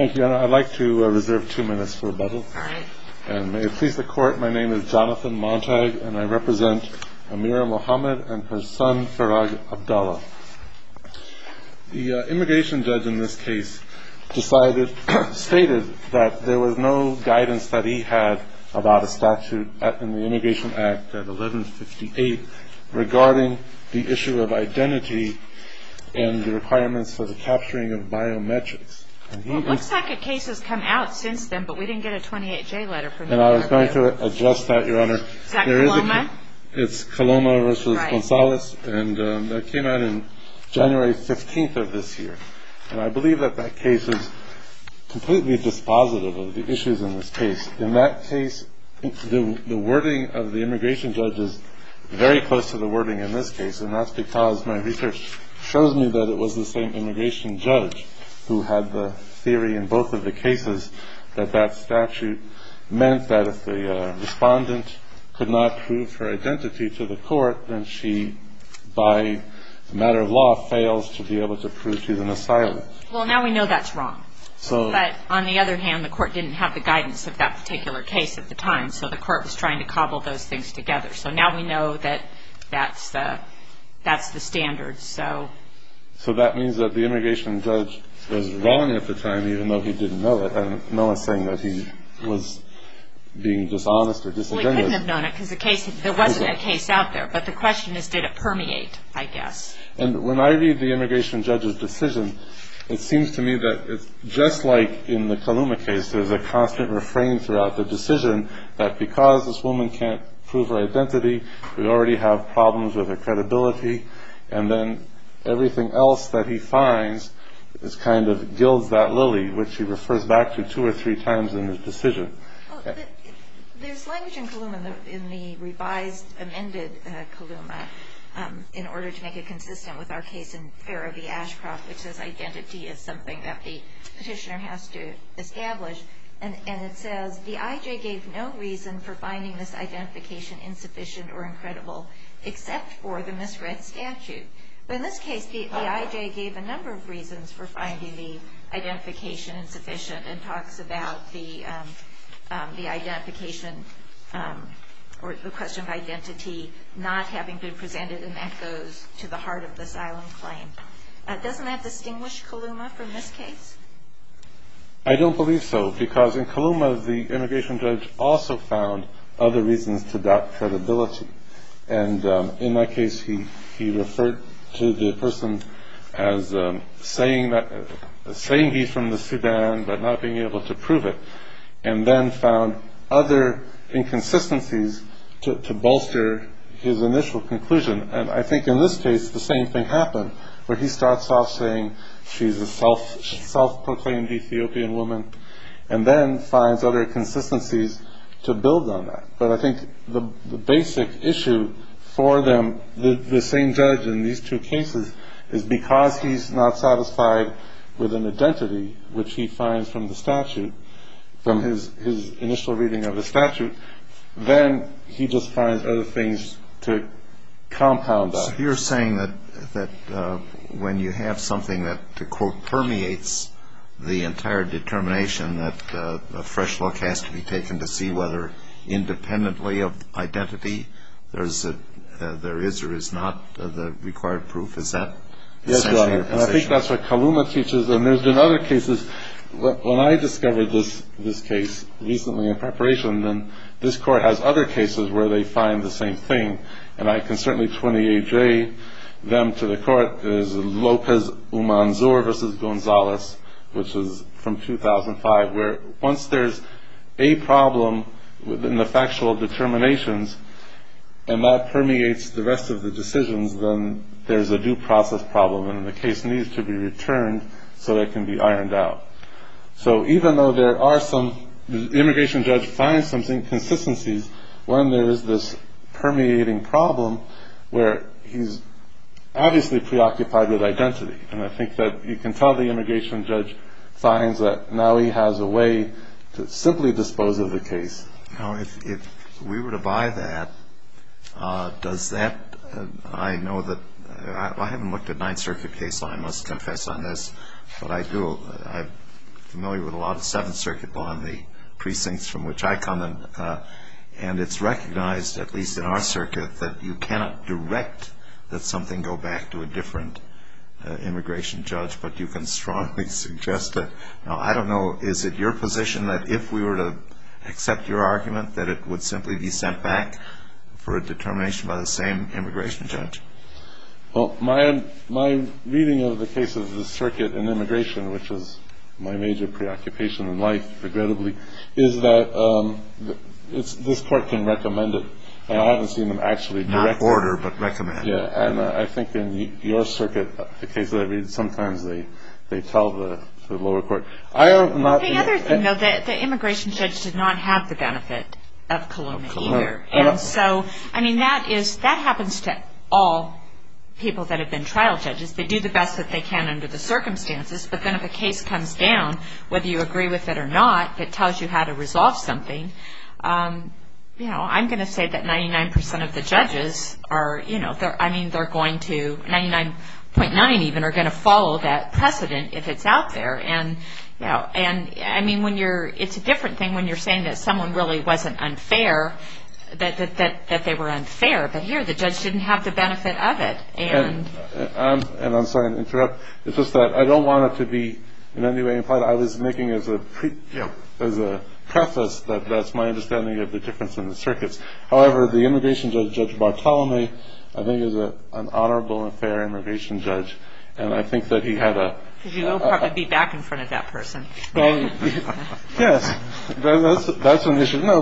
I'd like to reserve two minutes for rebuttal. May it please the court, my name is Jonathan Montag and I represent Amira Mohamed and her son Farag Abdallah. The immigration judge in this case stated that there was no guidance that he had about a statute in the Immigration Act at 1158 regarding the issue of identity and the requirements for the capturing of biometrics. It looks like a case has come out since then but we didn't get a 28-J letter. And I was going to address that your honor. Is that Coloma? It's Coloma v. Gonzalez and that came out in January 15th of this year. And I believe that that case is completely dispositive of the issues in this case. In that case the wording of the immigration judge is very close to the wording in this case and that's because my research shows me that it was the same immigration judge who had the theory in both of the cases that that statute meant that if the respondent could not prove her identity to the court then she by a matter of law fails to be able to prove she's an asylum. Well now we know that's wrong. But on the other hand the court didn't have the guidance of that particular case at the time so the court was trying to cobble those things together. So now we know that that's the standard. So that means that the immigration judge was wrong at the time even though he didn't know it. And no one's saying that he was being dishonest or disingenuous. Well he couldn't have known it because there wasn't a case out there. But the question is did it permeate I guess. And when I read the immigration judge's decision it seems to me that it's just like in the Coloma case. There's a constant refrain throughout the decision that because this woman can't prove her identity we already have problems with her credibility and then everything else that he finds is kind of gilds that lily which he refers back to two or three times in his decision. There's language in Coloma in the revised amended Coloma in order to make it consistent with our case in Farrah v. Ashcroft which says identity is something that the petitioner has to establish. And it says the I.J. gave no reason for finding this identification insufficient or incredible except for the misread statute. But in this case the I.J. gave a number of reasons for finding the identification insufficient and talks about the identification or the question of identity not having been presented and that goes to the heart of the silent claim. Doesn't that distinguish Coloma from this case? I don't believe so because in Coloma the immigration judge also found other reasons to doubt credibility. And in that case he referred to the person as saying he's from the Sudan but not being able to prove it and then found other inconsistencies to bolster his initial conclusion. And I think in this case the same thing happened where he starts off saying she's a self-proclaimed Ethiopian woman and then finds other consistencies to build on that. But I think the basic issue for them the same judge in these two cases is because he's not satisfied with an identity which he finds from the statute from his initial reading of the statute then he just finds other things to compound that. So you're saying that when you have something that to quote permeates the entire determination that a fresh look has to be taken to see whether independently of identity there is or is not the required proof. Is that essentially your position? I think that's what Coloma teaches. And there's been other cases when I discovered this case recently in preparation then this court has other cases where they find the same thing. And I can certainly 28-J them to the court as Lopez-Umanzor versus Gonzalez which is from 2005 where once there's a problem within the factual determinations and that permeates the rest of the decisions then there's a due process problem and the case needs to be returned so it can be ironed out. So even though there are some immigration judge finds some inconsistencies when there is this permeating problem where he's obviously preoccupied with identity. And I think that you can tell the immigration judge finds that now he has a way to simply dispose of the case. Now if we were to buy that, does that, I know that, I haven't looked at Ninth Circuit case so I must confess on this but I do, I'm familiar with a lot of Seventh Circuit law in the precincts from which I come and it's recognized at least in our circuit that you cannot direct that something go back to a different immigration judge but you can strongly suggest that. Now I don't know, is it your position that if we were to accept your argument that it would simply be sent back for a determination by the same immigration judge? Well my reading of the case of the circuit in immigration which is my major preoccupation in life regrettably is that this court can recommend it and I haven't seen them actually direct it. Not order but recommend. Yeah and I think in your circuit the case that I read sometimes they tell the lower court. I am not. The other thing though that the immigration judge did not have the benefit of Coloma either. And so I mean that is, that happens to all people that have been trial judges. They do the best that they can under the circumstances but then if a case comes down whether you agree with it or not, it tells you how to resolve something. I'm going to say that 99% of the judges are, I mean they're going to, 99.9 even are going to follow that precedent if it's out there. And I mean when you're, it's a different thing when you're saying that someone really wasn't unfair, that they were unfair but here the judge didn't have the benefit of it. And I'm sorry to interrupt. It's just that I don't want it to be in any way implied. I was making as a preface that that's my understanding of the difference in the circuits. However, the immigration judge, Judge Bartolome, I think is an honorable and fair immigration judge and I think that he had a. Because you will probably be back in front of that person. Yes, that's an issue. No,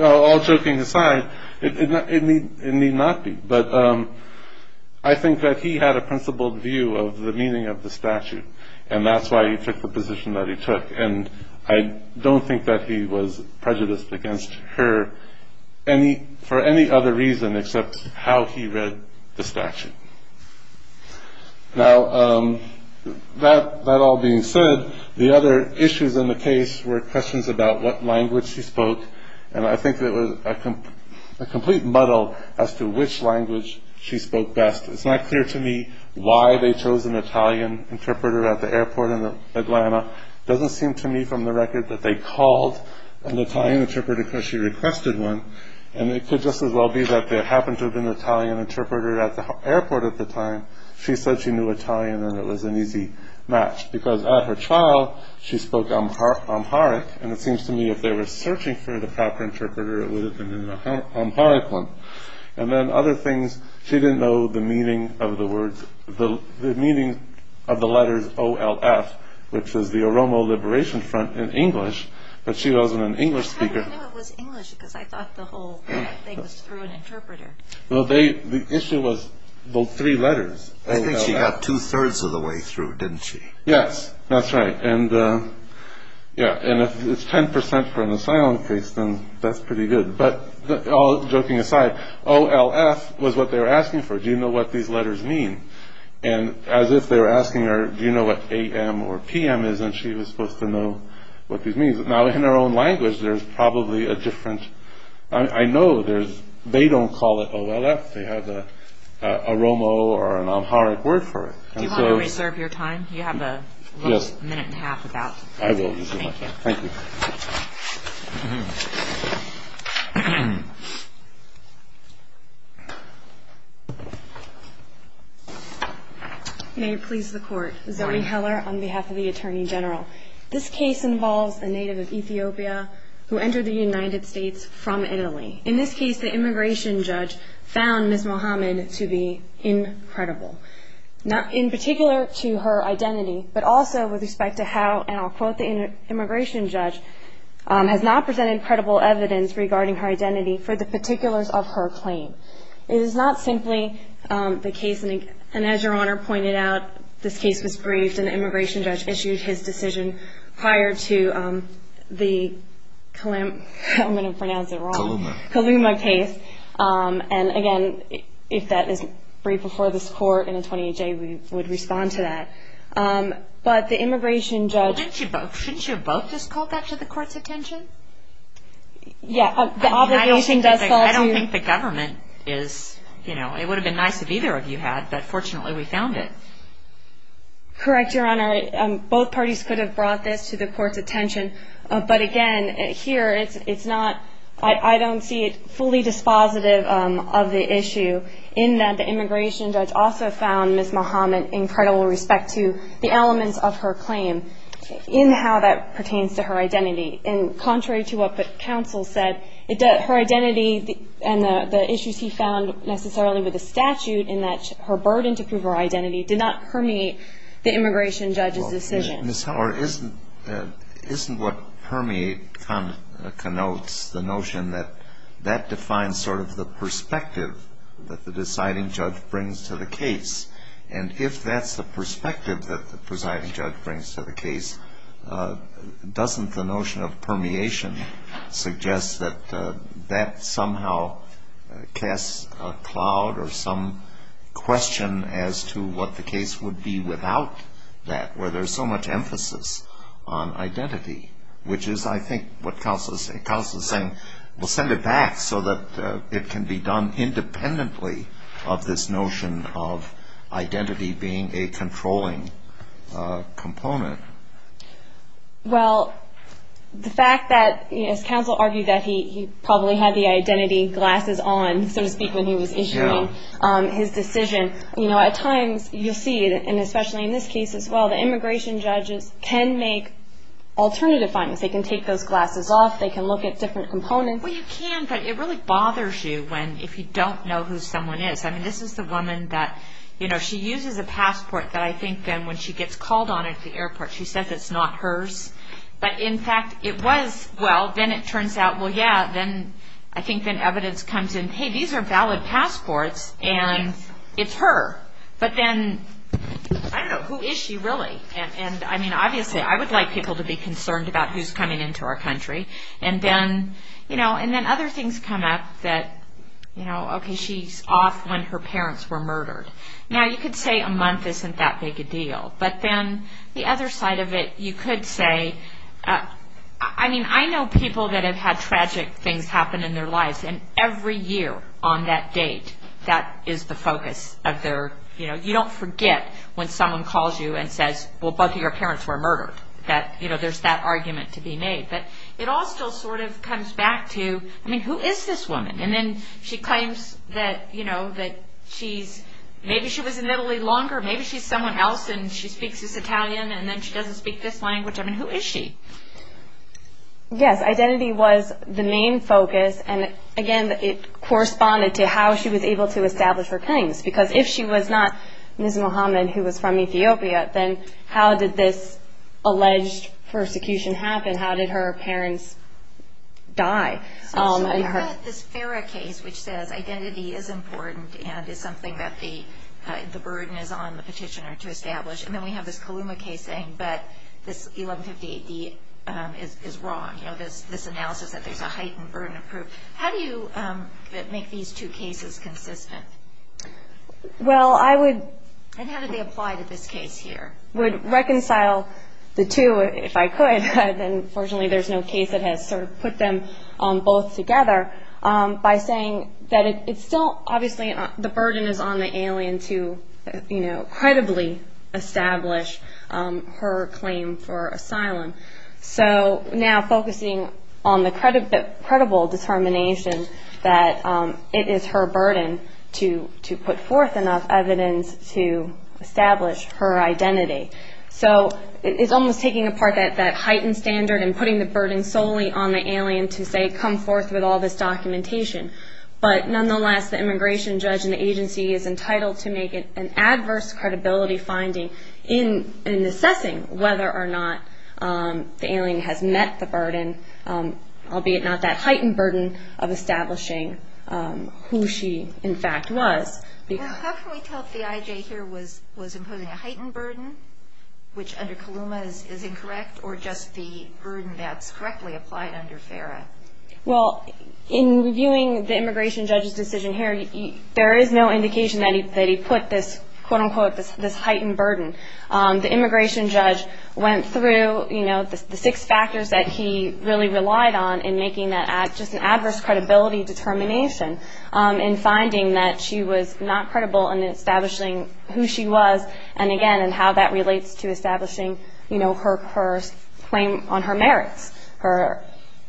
all joking aside, it need not be. But I think that he had a principled view of the meaning of the statute. And that's why he took the position that he took. And I don't think that he was prejudiced against her any for any other reason except how he read the statute. Now, that all being said, the other issues in the case were questions about what language he spoke. And I think it was a complete muddle as to which language she spoke best. It's not clear to me why they chose an Italian interpreter at the airport in Atlanta. It doesn't seem to me from the record that they called an Italian interpreter because she requested one. And it could just as well be that there happened to have been an Italian interpreter at the airport at the time. She said she knew Italian and it was an easy match because at her trial, she spoke Amharic. And it seems to me if they were searching for the proper interpreter, it would have been an Amharic one. And then other things, she didn't know the meaning of the letters O-L-F, which is the Oromo Liberation Front in English. But she wasn't an English speaker. I knew it was English because I thought the whole thing was through an interpreter. Well, the issue was the three letters. I think she got two-thirds of the way through, didn't she? Yes, that's right. And if it's 10% for an asylum case, then that's pretty good. But all joking aside, O-L-F was what they were asking for. Do you know what these letters mean? And as if they were asking her, do you know what A-M or P-M is? And she was supposed to know what these means. Now, in her own language, there's probably a different – I know they don't call it O-L-F. They have a Oromo or an Amharic word for it. Do you want to reserve your time? You have a little minute and a half. I will reserve my time. Thank you. May it please the Court. Zoe Heller on behalf of the Attorney General. This case involves a native of Ethiopia who entered the United States from Italy. In this case, the immigration judge found Ms. Mohamed to be incredible. In particular to her identity, but also with respect to how, and I'll quote the immigration judge, has not presented credible evidence regarding her identity for the particulars of her claim. It is not simply the case, and as Your Honor pointed out, this case was briefed and the immigration judge issued his decision prior to the Kaluma case. And again, if that is briefed before this Court in a 28-J, we would respond to that. But the immigration judge – Shouldn't you have both just called that to the Court's attention? Yeah, the obligation does fall to – I don't think the government is – you know, it would have been nice if either of you had, but fortunately we found it. Correct, Your Honor. Both parties could have brought this to the Court's attention. But again, here it's not – I don't see it fully dispositive of the issue in that the immigration judge also found Ms. Mohamed incredible with respect to the elements of her claim in how that pertains to her identity. And contrary to what the counsel said, her identity and the issues he found necessarily with the statute in that her burden to prove her identity did not permeate the immigration judge's decision. Well, Ms. Heller, isn't what permeate connotes the notion that that defines sort of the perspective that the deciding judge brings to the case? And if that's the perspective that the presiding judge brings to the case, doesn't the notion of permeation suggest that that somehow casts a cloud or some question as to what the case would be without that, where there's so much emphasis on identity? Which is, I think, what counsel is saying. We'll send it back so that it can be done independently of this notion of identity being a controlling component. Well, the fact that, as counsel argued, that he probably had the identity glasses on, so to speak, when he was issuing his decision. You know, at times, you'll see, and especially in this case as well, the immigration judges can make alternative findings. They can take those glasses off. They can look at different components. Well, you can, but it really bothers you when, if you don't know who someone is. I mean, this is the woman that, you know, she uses a passport that I think then, when she gets called on at the airport, she says it's not hers. But, in fact, it was. Well, then it turns out, well, yeah, then I think then evidence comes in, hey, these are valid passports, and it's her. But then, I don't know, who is she really? And, I mean, obviously, I would like people to be concerned about who's coming into our country. And then, you know, and then other things come up that, you know, okay, she's off when her parents were murdered. Now, you could say a month isn't that big a deal. But then the other side of it, you could say, I mean, I know people that have had tragic things happen in their lives. And every year on that date, that is the focus of their, you know, you don't forget when someone calls you and says, well, both of your parents were murdered, that, you know, there's that argument to be made. But it all still sort of comes back to, I mean, who is this woman? And then she claims that, you know, that she's, maybe she was in Italy longer. Maybe she's someone else, and she speaks this Italian, and then she doesn't speak this language. I mean, who is she? Yes, identity was the main focus. And, again, it corresponded to how she was able to establish her claims. Because if she was not Ms. Mohamed, who was from Ethiopia, then how did this alleged persecution happen? How did her parents die? So she had this Fara case, which says identity is important and is something that the burden is on the petitioner to establish. And then we have this Kaluma case saying that this 1158D is wrong, you know, this analysis that there's a heightened burden of proof. How do you make these two cases consistent? Well, I would. And how did they apply to this case here? Would reconcile the two, if I could. Unfortunately, there's no case that has sort of put them both together by saying that it's still, obviously, the burden is on the alien to, you know, credibly establish her claim for asylum. So now focusing on the credible determination that it is her burden to put forth enough evidence to establish her identity. So it's almost taking apart that heightened standard and putting the burden solely on the alien to, say, come forth with all this documentation. But nonetheless, the immigration judge in the agency is entitled to make an adverse credibility finding in assessing whether or not the alien has met the burden, albeit not that heightened burden, of establishing who she, in fact, was. How can we tell if the IJ here was imposing a heightened burden, which under Kaluma is incorrect, or just the burden that's correctly applied under FARA? Well, in reviewing the immigration judge's decision here, there is no indication that he put this, quote, unquote, this heightened burden. The immigration judge went through, you know, the six factors that he really relied on in making that just an adverse credibility determination in finding that she was not credible in establishing who she was and, again, and how that relates to establishing, you know, her claim on her merits, her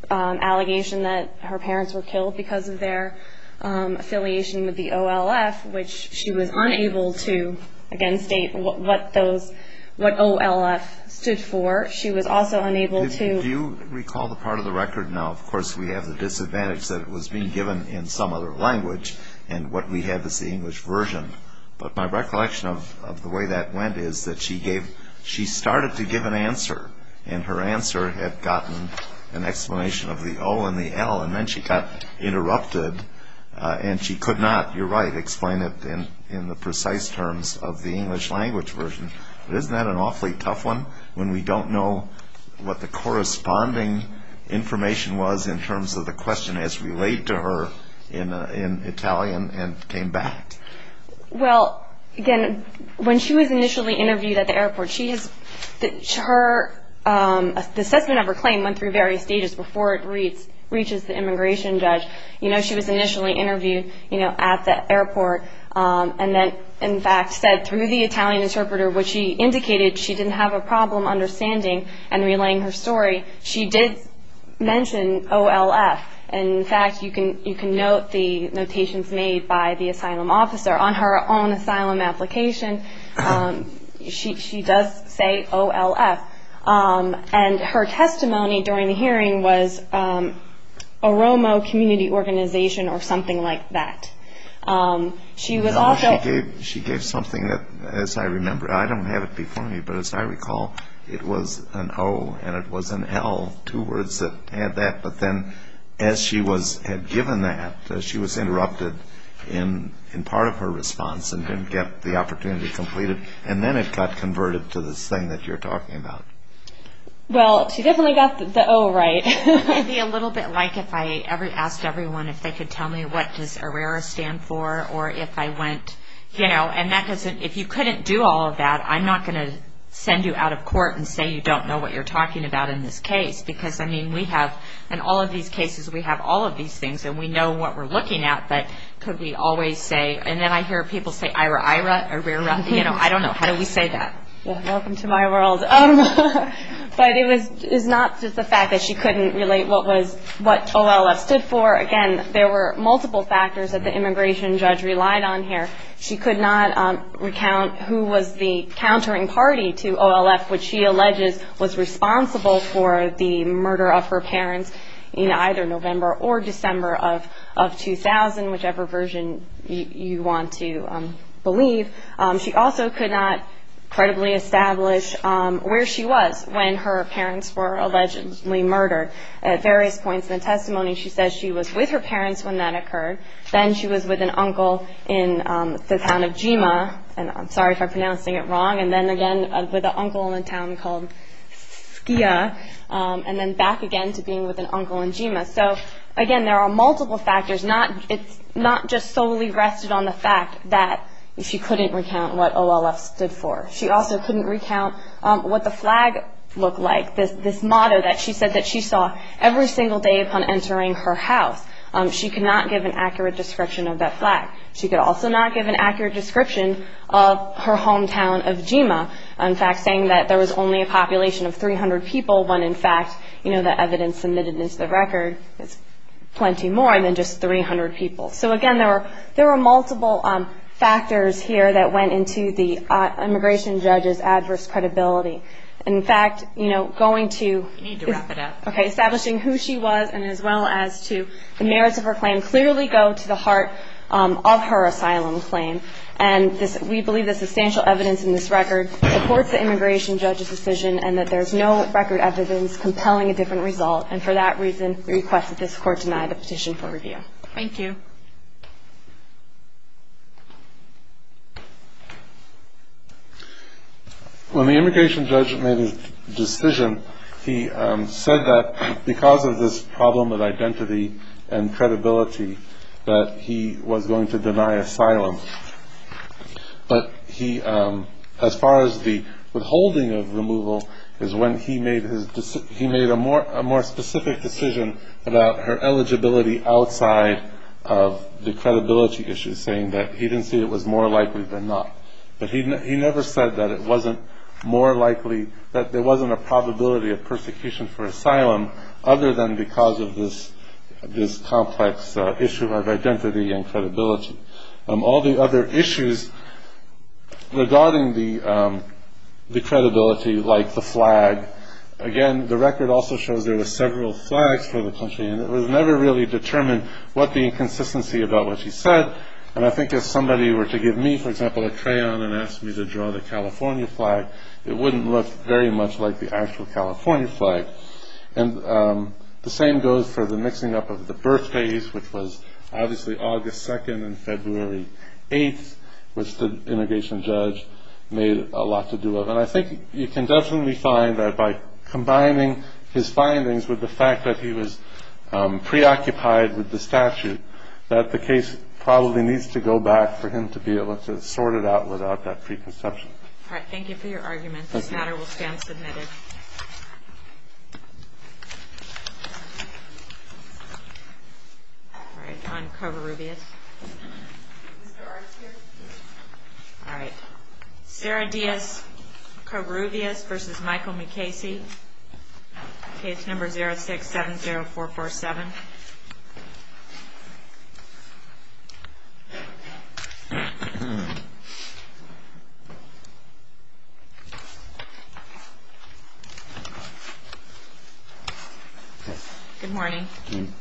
allegation that her parents were killed because of their affiliation with the OLF, which she was unable to, again, state what those OLF stood for. She was also unable to. Do you recall the part of the record now? Of course, we have the disadvantage that it was being given in some other language, and what we have is the English version. But my recollection of the way that went is that she started to give an answer, and her answer had gotten an explanation of the O and the L, and then she got interrupted, and she could not, you're right, explain it in the precise terms of the English language version. But isn't that an awfully tough one when we don't know what the corresponding information was in terms of the question as related to her in Italian and came back? Well, again, when she was initially interviewed at the airport, the assessment of her claim went through various stages before it reaches the immigration judge. You know, she was initially interviewed at the airport and then, in fact, said through the Italian interpreter what she indicated. She didn't have a problem understanding and relaying her story. She did mention OLF, and, in fact, you can note the notations made by the asylum officer. On her own asylum application, she does say OLF, and her testimony during the hearing was Oromo Community Organization or something like that. She gave something that, as I remember, I don't have it before me, but as I recall it was an O and it was an L, two words that had that. But then, as she had given that, she was interrupted in part of her response and didn't get the opportunity completed. And then it got converted to this thing that you're talking about. Well, she definitely got the O right. It would be a little bit like if I asked everyone if they could tell me what does ARERA stand for or if I went, you know, and if you couldn't do all of that, I'm not going to send you out of court and say you don't know what you're talking about in this case because, I mean, we have, in all of these cases, we have all of these things and we know what we're looking at, but could we always say, and then I hear people say IRAIRA, ARERA, you know, I don't know. How do we say that? Welcome to my world. But it was not just the fact that she couldn't relate what OLF stood for. Again, there were multiple factors that the immigration judge relied on here. She could not recount who was the countering party to OLF, which she alleges was responsible for the murder of her parents in either November or December of 2000, whichever version you want to believe. She also could not credibly establish where she was when her parents were allegedly murdered. At various points in the testimony, she says she was with her parents when that occurred. Then she was with an uncle in the town of Jima, and I'm sorry if I'm pronouncing it wrong, and then again with an uncle in a town called Skia, and then back again to being with an uncle in Jima. So, again, there are multiple factors. It's not just solely rested on the fact that she couldn't recount what OLF stood for. She also couldn't recount what the flag looked like, this motto that she said that she saw every single day upon entering her house. She could not give an accurate description of that flag. She could also not give an accurate description of her hometown of Jima. In fact, saying that there was only a population of 300 people when, in fact, the evidence submitted into the record is plenty more than just 300 people. So, again, there were multiple factors here that went into the immigration judge's adverse credibility. In fact, going to establishing who she was and as well as to the merits of her claim can clearly go to the heart of her asylum claim, and we believe that substantial evidence in this record supports the immigration judge's decision and that there's no record evidence compelling a different result, and for that reason we request that this court deny the petition for review. Thank you. When the immigration judge made his decision, he said that because of this problem with identity and credibility that he was going to deny asylum. But he, as far as the withholding of removal, is when he made a more specific decision about her eligibility outside of the credibility issue, saying that he didn't see it was more likely than not. But he never said that it wasn't more likely, that there wasn't a probability of persecution for asylum other than because of this complex issue of identity and credibility. All the other issues regarding the credibility, like the flag, again, the record also shows there were several flags for the country, and it was never really determined what the inconsistency about what she said, and I think if somebody were to give me, for example, a crayon and ask me to draw the California flag, it wouldn't look very much like the actual California flag. And the same goes for the mixing up of the birthdays, which was obviously August 2nd and February 8th, which the immigration judge made a lot to do with. And I think you can definitely find that by combining his findings with the fact that he was preoccupied with the statute, that the case probably needs to go back for him to be able to sort it out without that preconception. All right. Thank you for your argument. This matter will stand submitted. All right. On Covarrubias. All right. Sarah Diaz Covarrubias v. Michael McKaysey. Page number 0670447. Good morning.